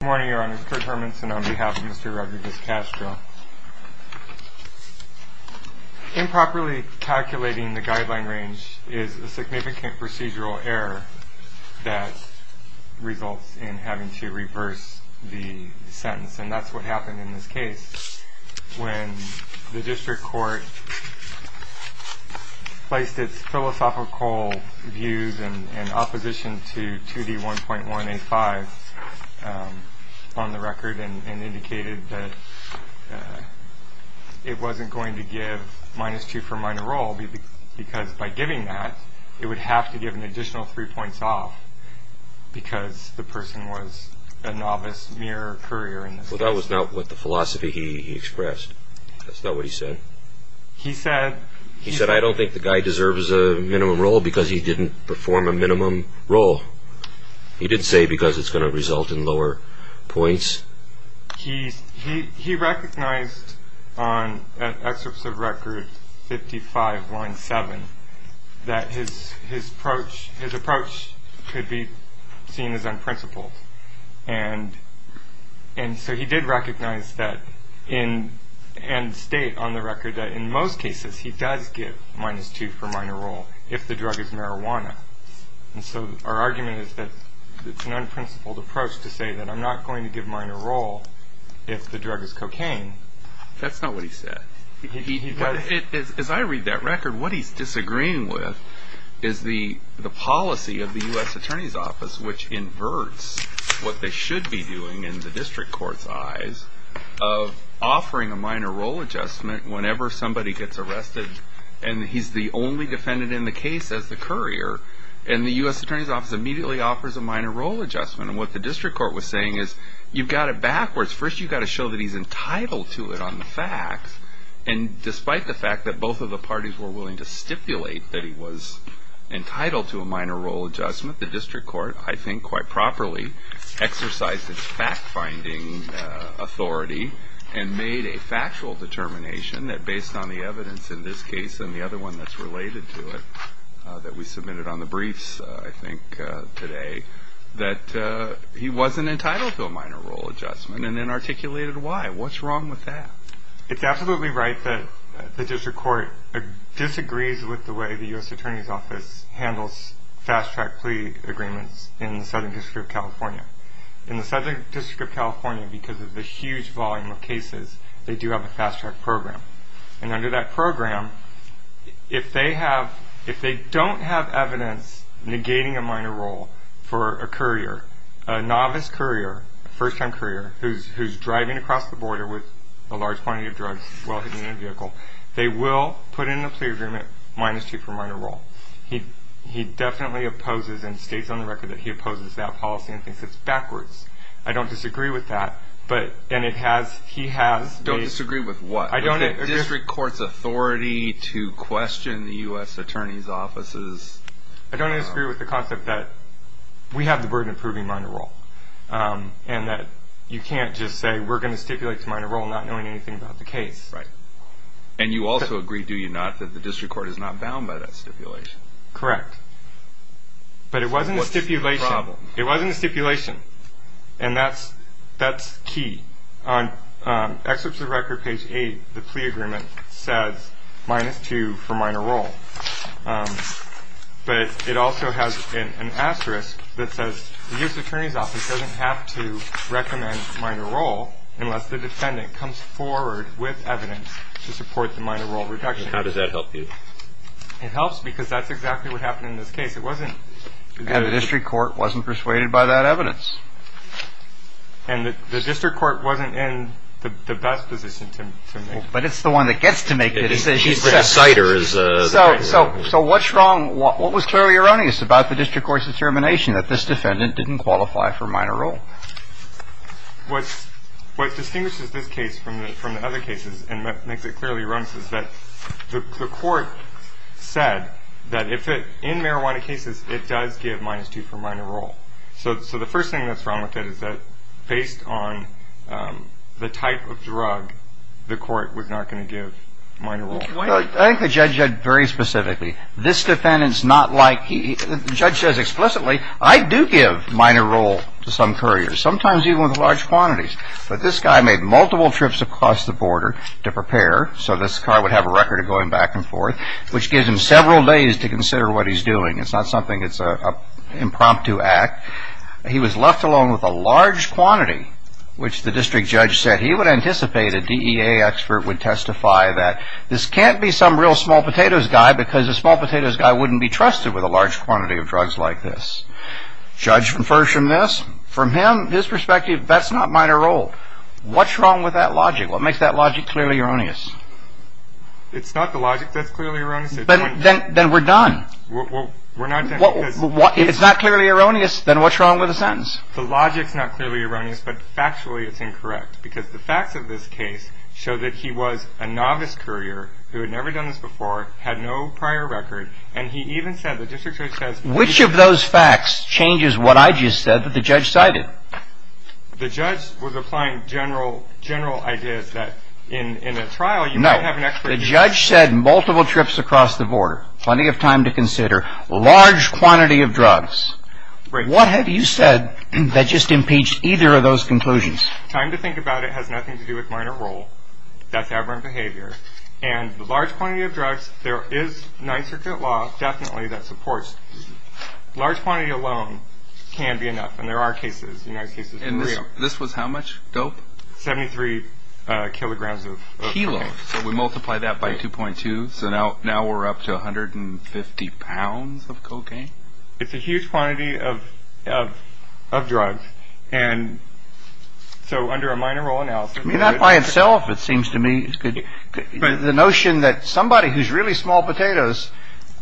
Good morning, Your Honor. It's Kurt Hermanson on behalf of Mr. Rodriguez-Castro. Improperly calculating the guideline range is a significant procedural error that results in having to reverse the sentence, and that's what happened in this case when the district court placed its philosophical views in opposition to 2D1.185 on the record and indicated that it wasn't going to give minus two for minor role because by giving that, it would have to give an additional three points off because the person was a novice mirror courier. Well, that was not what the philosophy he expressed. That's not what he said. He said, I don't think the guy deserves a minimum role because he didn't perform a minimum role. He didn't say because it's going to result in lower points. He recognized on an excerpt of record 55, line seven, that his approach could be seen as unprincipled, and so he did recognize that and state on the record that in most cases he does give minus two for minor role if the drug is marijuana. And so our argument is that it's an unprincipled approach to say that I'm not going to give minor role if the drug is cocaine. That's not what he said. As I read that record, what he's disagreeing with is the policy of the U.S. Attorney's Office, which inverts what they should be doing in the district court's eyes of offering a minor role adjustment whenever somebody gets arrested and he's the only defendant in the case as the courier. And the U.S. Attorney's Office immediately offers a minor role adjustment. And what the district court was saying is you've got it backwards. First, you've got to show that he's entitled to it on the facts. And despite the fact that both of the parties were willing to stipulate that he was entitled to a minor role adjustment, the district court, I think quite properly, exercised its fact-finding authority and made a factual determination that based on the evidence in this case and the other one that's related to it that we submitted on the briefs, I think, today, that he wasn't entitled to a minor role adjustment and then articulated why. What's wrong with that? It's absolutely right that the district court disagrees with the way the U.S. Attorney's Office handles fast-track plea agreements in the Southern District of California. In the Southern District of California, because of the huge volume of cases, they do have a fast-track program. And under that program, if they don't have evidence negating a minor role for a courier, a novice courier, a first-time courier who's driving across the border with a large quantity of drugs while he's in a vehicle, they will put in a plea agreement minus two for minor role. He definitely opposes and states on the record that he opposes that policy and thinks it's backwards. I don't disagree with that, and he has. Don't disagree with what? The district court's authority to question the U.S. Attorney's Offices? I don't disagree with the concept that we have the burden of proving minor role and that you can't just say we're going to stipulate to minor role not knowing anything about the case. Right. And you also agree, do you not, that the district court is not bound by that stipulation? Correct. But it wasn't a stipulation. What's the problem? It wasn't a stipulation, and that's key. On Excerpts of Record, page 8, the plea agreement says minus two for minor role. But it also has an asterisk that says the U.S. Attorney's Office doesn't have to recommend minor role unless the defendant comes forward with evidence to support the minor role reduction. How does that help you? It helps because that's exactly what happened in this case. And the district court wasn't persuaded by that evidence. And the district court wasn't in the best position to make that decision. But it's the one that gets to make the decision. The decider is the minor role. So what's wrong? What was clearly erroneous about the district court's determination that this defendant didn't qualify for minor role? What distinguishes this case from the other cases and makes it clearly erroneous is that the court said that if it, in marijuana cases, it does give minus two for minor role. So the first thing that's wrong with it is that based on the type of drug, the court was not going to give minor role. I think the judge said very specifically, this defendant's not like, the judge says explicitly, I do give minor role to some couriers, sometimes even with large quantities. But this guy made multiple trips across the border to prepare so this car would have a record of going back and forth, which gives him several days to consider what he's doing. It's not something that's an impromptu act. He was left alone with a large quantity, which the district judge said he would anticipate a DEA expert would testify that This can't be some real small potatoes guy because a small potatoes guy wouldn't be trusted with a large quantity of drugs like this. Judge infers from this, from him, his perspective, that's not minor role. What's wrong with that logic? What makes that logic clearly erroneous? It's not the logic that's clearly erroneous. Then we're done. We're not done. If it's not clearly erroneous, then what's wrong with the sentence? The logic's not clearly erroneous, but factually it's incorrect. Because the facts of this case show that he was a novice courier who had never done this before, had no prior record, and he even said the district judge says Which of those facts changes what I just said that the judge cited? The judge was applying general ideas that in a trial you might have an expert No. The judge said multiple trips across the border, plenty of time to consider, large quantity of drugs. What have you said that just impeached either of those conclusions? Time to think about it has nothing to do with minor role. That's aberrant behavior. And the large quantity of drugs, there is 9th Circuit law definitely that supports. Large quantity alone can be enough, and there are cases. And this was how much dope? 73 kilograms of cocaine. So we multiply that by 2.2, so now we're up to 150 pounds of cocaine? It's a huge quantity of drugs. And so under a minor role analysis. Not by itself, it seems to me. The notion that somebody who's really small potatoes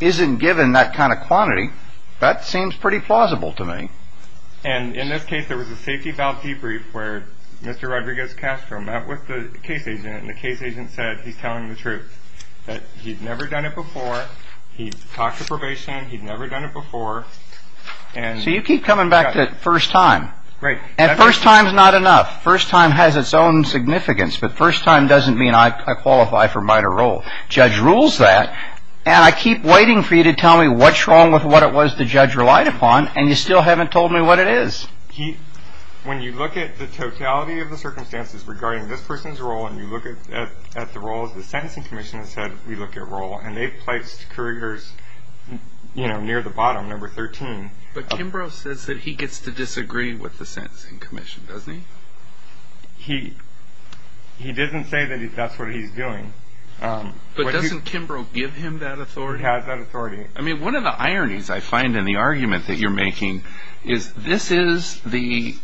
isn't given that kind of quantity, that seems pretty plausible to me. And in this case, there was a safety valve debrief where Mr. Rodriguez Castro met with the case agent, and the case agent said he's telling the truth, that he'd never done it before. He talked to probation. He'd never done it before. So you keep coming back to first time. Right. And first time's not enough. First time has its own significance, but first time doesn't mean I qualify for minor role. Judge rules that, and I keep waiting for you to tell me what's wrong with what it was the judge relied upon, and you still haven't told me what it is. When you look at the totality of the circumstances regarding this person's role, and you look at the roles, the Sentencing Commission has said we look at role, and they've placed couriers near the bottom, number 13. But Kimbrough says that he gets to disagree with the Sentencing Commission, doesn't he? He doesn't say that that's what he's doing. But doesn't Kimbrough give him that authority? He has that authority. I mean, one of the ironies I find in the argument that you're making is this is the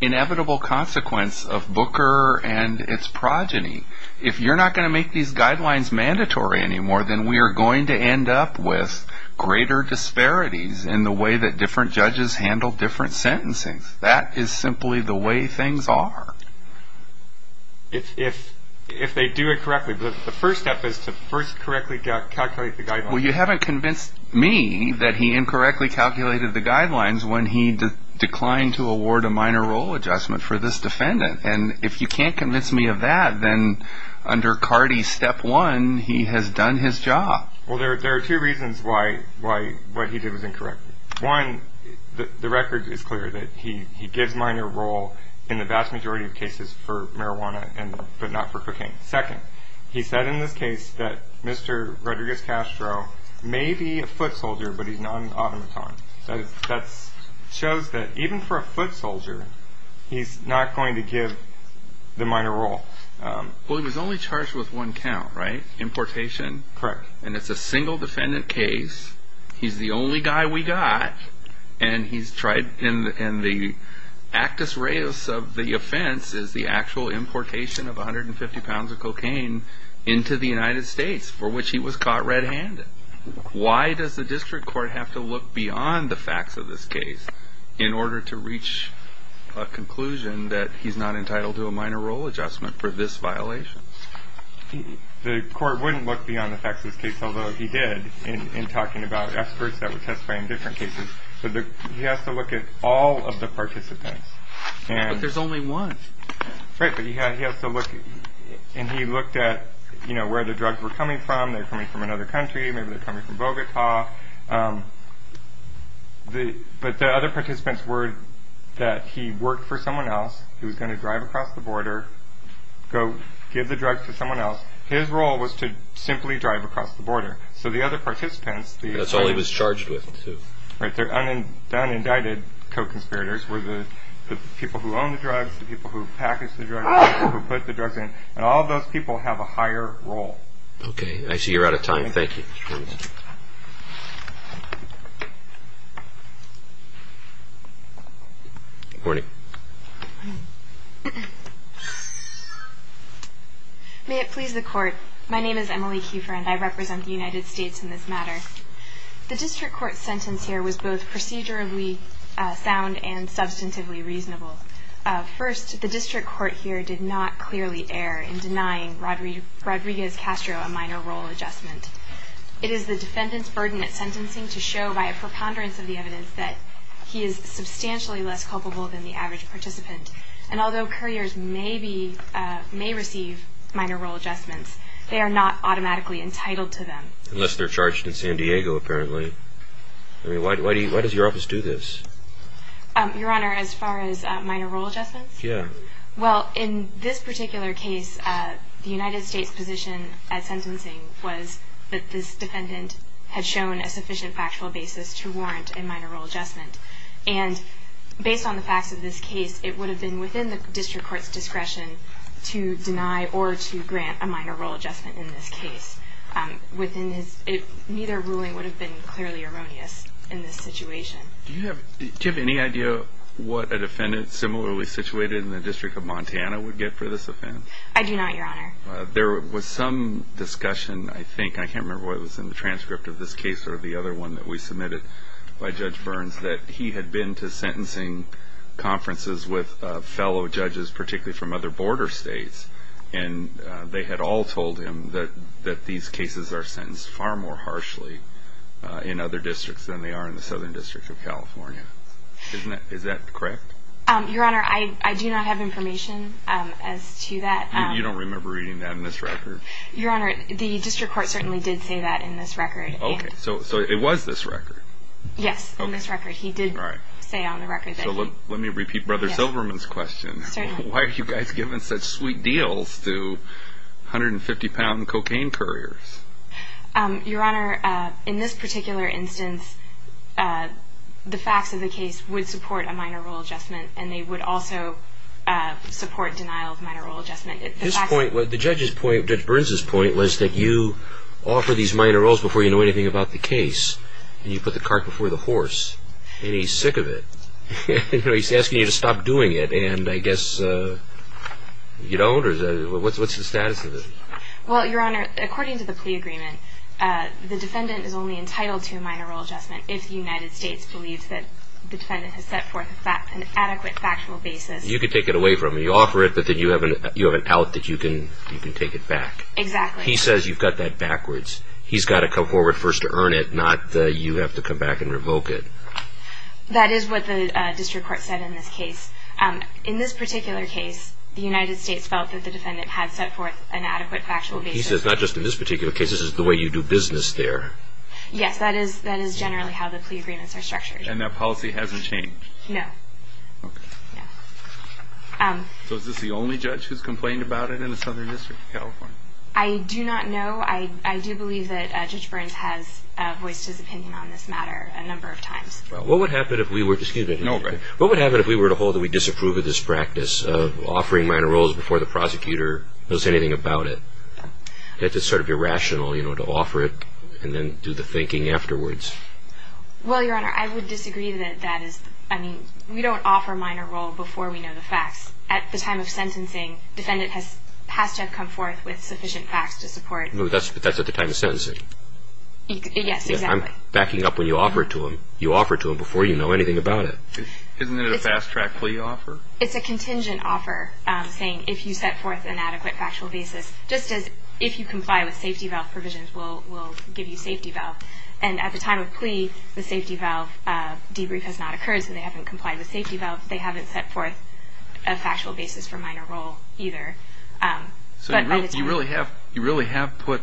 inevitable consequence of Booker and its progeny. If you're not going to make these guidelines mandatory anymore, then we are going to end up with greater disparities in the way that different judges handle different sentencing. That is simply the way things are. If they do it correctly. The first step is to first correctly calculate the guidelines. Well, you haven't convinced me that he incorrectly calculated the guidelines when he declined to award a minor role adjustment for this defendant. And if you can't convince me of that, then under CARDI Step 1, he has done his job. Well, there are two reasons why what he did was incorrect. One, the record is clear that he gives minor role in the vast majority of cases for marijuana, but not for cocaine. Second, he said in this case that Mr. Rodriguez Castro may be a foot soldier, but he's not an automaton. That shows that even for a foot soldier, he's not going to give the minor role. Well, he was only charged with one count, right? Importation. Correct. And it's a single defendant case. He's the only guy we got. And the actus reus of the offense is the actual importation of 150 pounds of cocaine into the United States, for which he was caught red-handed. Why does the district court have to look beyond the facts of this case in order to reach a conclusion that he's not entitled to a minor role adjustment for this violation? The court wouldn't look beyond the facts of this case, although he did in talking about experts that were testifying in different cases. But he has to look at all of the participants. But there's only one. Right, but he has to look. And he looked at, you know, where the drugs were coming from. They're coming from another country. Maybe they're coming from Bogota. But the other participants were that he worked for someone else. He was going to drive across the border, go give the drugs to someone else. His role was to simply drive across the border. So the other participants... That's all he was charged with, too. Right. Their undone indicted co-conspirators were the people who owned the drugs, the people who packaged the drugs, who put the drugs in. And all of those people have a higher role. Okay. I see you're out of time. Thank you. Thank you. Good morning. Good morning. May it please the Court, my name is Emily Kieffer, and I represent the United States in this matter. The District Court's sentence here was both procedurally sound and substantively reasonable. First, the District Court here did not clearly err in denying Rodriguez Castro a minor role adjustment. It is the defendant's burden at sentencing to show by a preponderance of the evidence that he is substantially less culpable than the average participant. And although couriers may receive minor role adjustments, they are not automatically entitled to them. Unless they're charged in San Diego, apparently. Why does your office do this? Your Honor, as far as minor role adjustments? Yeah. Well, in this particular case, the United States' position at sentencing was that this defendant had shown a sufficient factual basis to warrant a minor role adjustment. And based on the facts of this case, it would have been within the District Court's discretion to deny or to grant a minor role adjustment in this case. Neither ruling would have been clearly erroneous in this situation. Do you have any idea what a defendant similarly situated in the District of Montana would get for this offense? I do not, Your Honor. There was some discussion, I think, I can't remember what was in the transcript of this case or the other one that we submitted by Judge Burns, that he had been to sentencing conferences with fellow judges, particularly from other border states, and they had all told him that these cases are sentenced far more harshly in other districts than they are in the Southern District of California. Is that correct? Your Honor, I do not have information as to that. You don't remember reading that in this record? Your Honor, the District Court certainly did say that in this record. Okay, so it was this record? Yes, in this record. He did say on the record that he... ...150-pound cocaine couriers. Your Honor, in this particular instance, the facts of the case would support a minor role adjustment, and they would also support denial of minor role adjustment. The judge's point, Judge Burns' point, was that you offer these minor roles before you know anything about the case, and you put the cart before the horse, and he's sick of it. He's asking you to stop doing it, and I guess you don't, or what's the status of it? Well, Your Honor, according to the plea agreement, the defendant is only entitled to a minor role adjustment if the United States believes that the defendant has set forth an adequate factual basis. You could take it away from him. You offer it, but then you have an out that you can take it back. Exactly. He says you've got that backwards. He's got to come forward first to earn it, not you have to come back and revoke it. That is what the district court said in this case. In this particular case, the United States felt that the defendant had set forth an adequate factual basis. He says not just in this particular case, this is the way you do business there. Yes, that is generally how the plea agreements are structured. And that policy hasn't changed? No. Okay. No. I do not know. I do believe that Judge Burns has voiced his opinion on this matter a number of times. Well, what would happen if we were to hold that we disapprove of this practice of offering minor roles before the prosecutor knows anything about it? That's sort of irrational, you know, to offer it and then do the thinking afterwards. Well, Your Honor, I would disagree that that is, I mean, we don't offer a minor role before we know the facts. At the time of sentencing, defendant has to have come forth with sufficient facts to support. But that's at the time of sentencing. Yes, exactly. I'm backing up when you offer it to him. You offer it to him before you know anything about it. Isn't it a fast-track plea offer? It's a contingent offer saying if you set forth an adequate factual basis, just as if you comply with safety valve provisions, we'll give you safety valve. And at the time of plea, the safety valve debrief has not occurred, so they haven't complied with safety valve. They haven't set forth a factual basis for minor role either. So you really have put,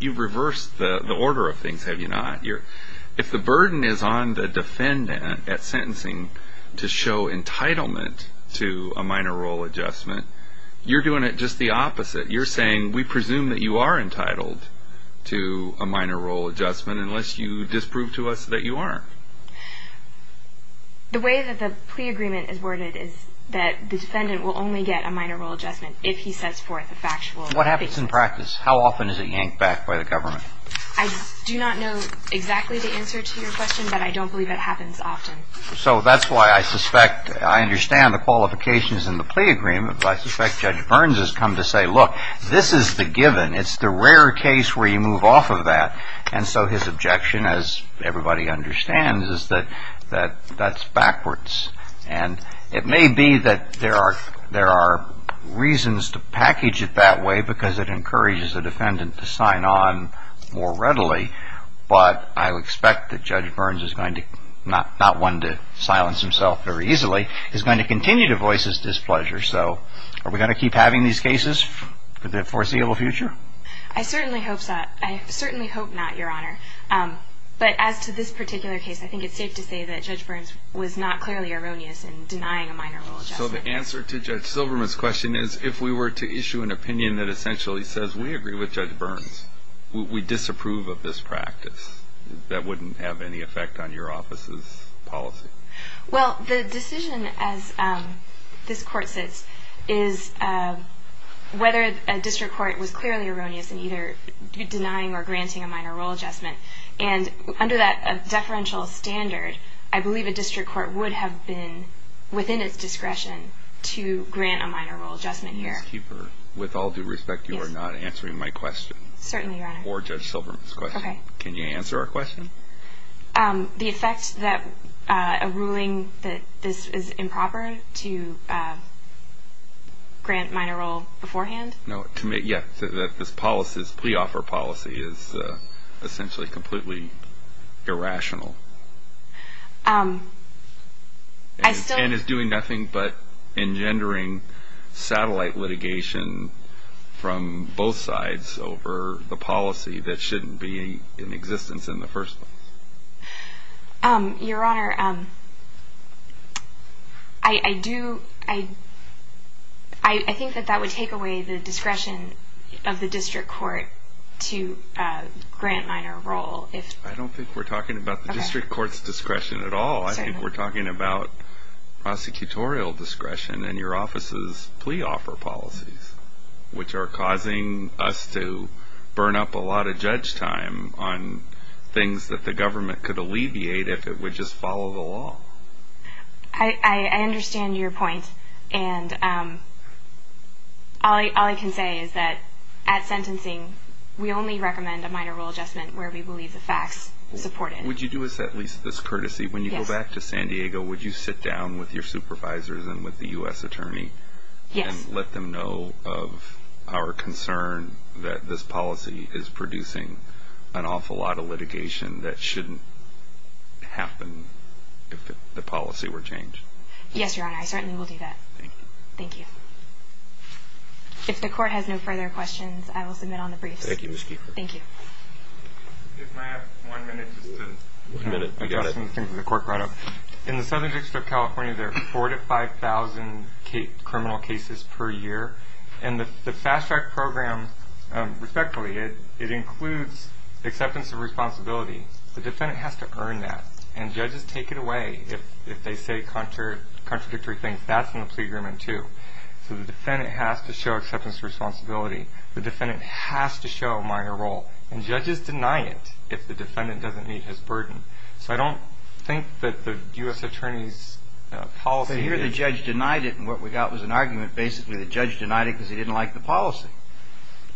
you've reversed the order of things, have you not? If the burden is on the defendant at sentencing to show entitlement to a minor role adjustment, you're doing it just the opposite. You're saying we presume that you are entitled to a minor role adjustment unless you disprove to us that you aren't. The way that the plea agreement is worded is that the defendant will only get a minor role adjustment if he sets forth a factual basis. What happens in practice? How often is it yanked back by the government? I do not know exactly the answer to your question, but I don't believe it happens often. So that's why I suspect, I understand the qualifications in the plea agreement, but I suspect Judge Burns has come to say, look, this is the given. It's the rare case where you move off of that. And so his objection, as everybody understands, is that that's backwards. And it may be that there are reasons to package it that way because it encourages the defendant to sign on more readily, but I expect that Judge Burns is going to, not one to silence himself very easily, is going to continue to voice his displeasure. So are we going to keep having these cases for the foreseeable future? I certainly hope so. I certainly hope not, Your Honor. But as to this particular case, I think it's safe to say that Judge Burns was not clearly erroneous in denying a minor role adjustment. So the answer to Judge Silverman's question is, if we were to issue an opinion that essentially says we agree with Judge Burns, we disapprove of this practice, that wouldn't have any effect on your office's policy? Well, the decision as this Court sits is whether a district court was clearly erroneous in either denying or granting a minor role adjustment. And under that deferential standard, I believe a district court would have been within its discretion to grant a minor role adjustment here. Ms. Keeper, with all due respect, you are not answering my question. Certainly, Your Honor. Or Judge Silverman's question. Okay. Can you answer our question? The effect that a ruling that this is improper to grant minor role beforehand? No. Yeah. This pre-offer policy is essentially completely irrational. And it's doing nothing but engendering satellite litigation from both sides over the policy that shouldn't be in existence in the first place. Your Honor, I think that that would take away the discretion of the district court to grant minor role. I don't think we're talking about the district court's discretion at all. I think we're talking about prosecutorial discretion in your office's plea offer policies, which are causing us to burn up a lot of judge time on things that the government could alleviate if it would just follow the law. I understand your point. And all I can say is that at sentencing, we only recommend a minor role adjustment where we believe the facts support it. Would you do us at least this courtesy? Yes. When you go back to San Diego, would you sit down with your supervisors and with the U.S. attorney? Yes. And let them know of our concern that this policy is producing an awful lot of litigation that shouldn't happen if the policy were changed. Yes, Your Honor. I certainly will do that. Thank you. Thank you. If the court has no further questions, I will submit on the briefs. Thank you, Ms. Keefer. Thank you. If I have one minute to submit it, I guess. In the Southern District of California, there are 4,000 to 5,000 criminal cases per year. And the FASTRAC program, respectfully, it includes acceptance of responsibility. The defendant has to earn that. And judges take it away if they say contradictory things. That's in the plea agreement, too. So the defendant has to show acceptance of responsibility. The defendant has to show a minor role. And judges deny it if the defendant doesn't meet his burden. So I don't think that the U.S. Attorney's policy is. So here the judge denied it. And what we got was an argument. Basically, the judge denied it because he didn't like the policy.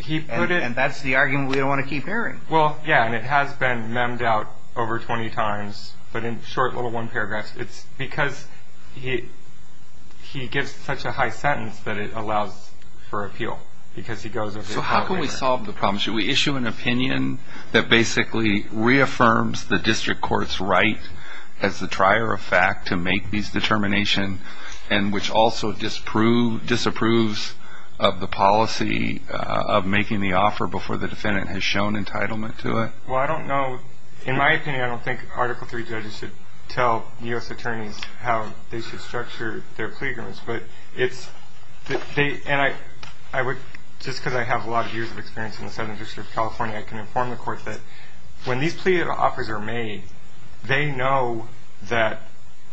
And that's the argument we don't want to keep hearing. Well, yes. And it has been memed out over 20 times. But in short little one paragraph, it's because he gives such a high sentence that it allows for appeal. Because he goes over the problem. So how can we solve the problem? Should we issue an opinion that basically reaffirms the district court's right as the trier of fact to make these determination and which also disapproves of the policy of making the offer before the defendant has shown entitlement to it? Well, I don't know. In my opinion, I don't think Article III judges should tell U.S. attorneys how they should structure their plea agreements. And just because I have a lot of years of experience in the Southern District of California, I can inform the court that when these plea offers are made, they know that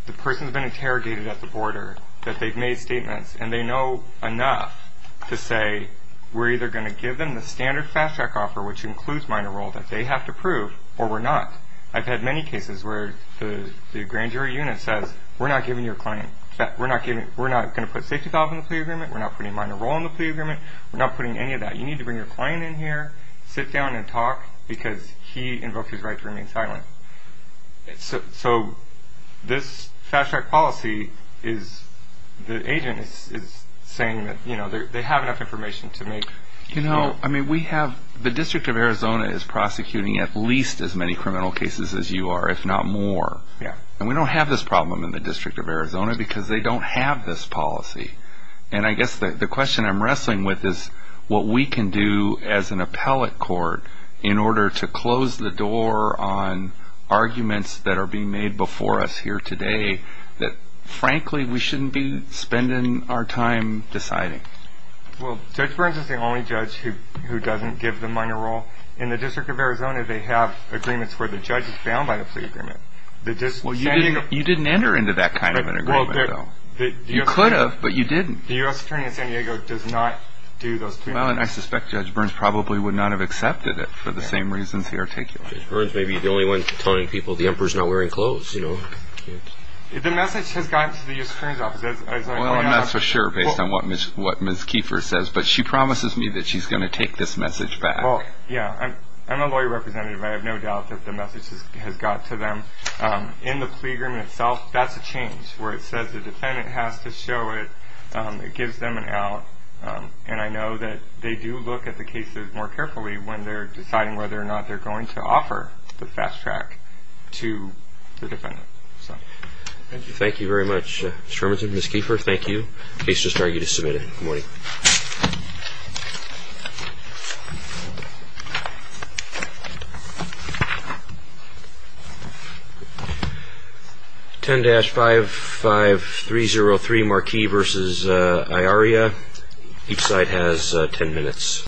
the person has been interrogated at the border, that they've made statements, and they know enough to say we're either going to give them the standard fast track offer, which includes minor role, that they have to prove, or we're not. I've had many cases where the grand jury unit says we're not going to put safety golf in the plea agreement, we're not putting minor role in the plea agreement, we're not putting any of that. You need to bring your client in here, sit down and talk, because he invoked his right to remain silent. So this fast track policy is the agent is saying that they have enough information to make. You know, the District of Arizona is prosecuting at least as many criminal cases as you are, if not more. And we don't have this problem in the District of Arizona because they don't have this policy. And I guess the question I'm wrestling with is what we can do as an appellate court in order to close the door on arguments that are being made before us here today that frankly we shouldn't be spending our time deciding. Well, Judge Burns is the only judge who doesn't give them minor role. In the District of Arizona, they have agreements where the judge is bound by the plea agreement. Well, you didn't enter into that kind of an agreement, though. You could have, but you didn't. The U.S. Attorney in San Diego does not do those agreements. Well, and I suspect Judge Burns probably would not have accepted it for the same reasons he articulated. Judge Burns may be the only one telling people the emperor's not wearing clothes, you know. The message has gotten to the U.S. Attorney's office. Well, I'm not so sure based on what Ms. Kiefer says, but she promises me that she's going to take this message back. Well, yeah, I'm a lawyer representative. I have no doubt that the message has got to them. In the plea agreement itself, that's a change where it says the defendant has to show it. It gives them an out, and I know that they do look at the cases more carefully when they're deciding whether or not they're going to offer the fast track to the defendant. Thank you very much, Mr. Hermanson. Ms. Kiefer, thank you. Case just argued is submitted. Good morning. 10-55303 Marquis v. Iaria. Each side has 10 minutes.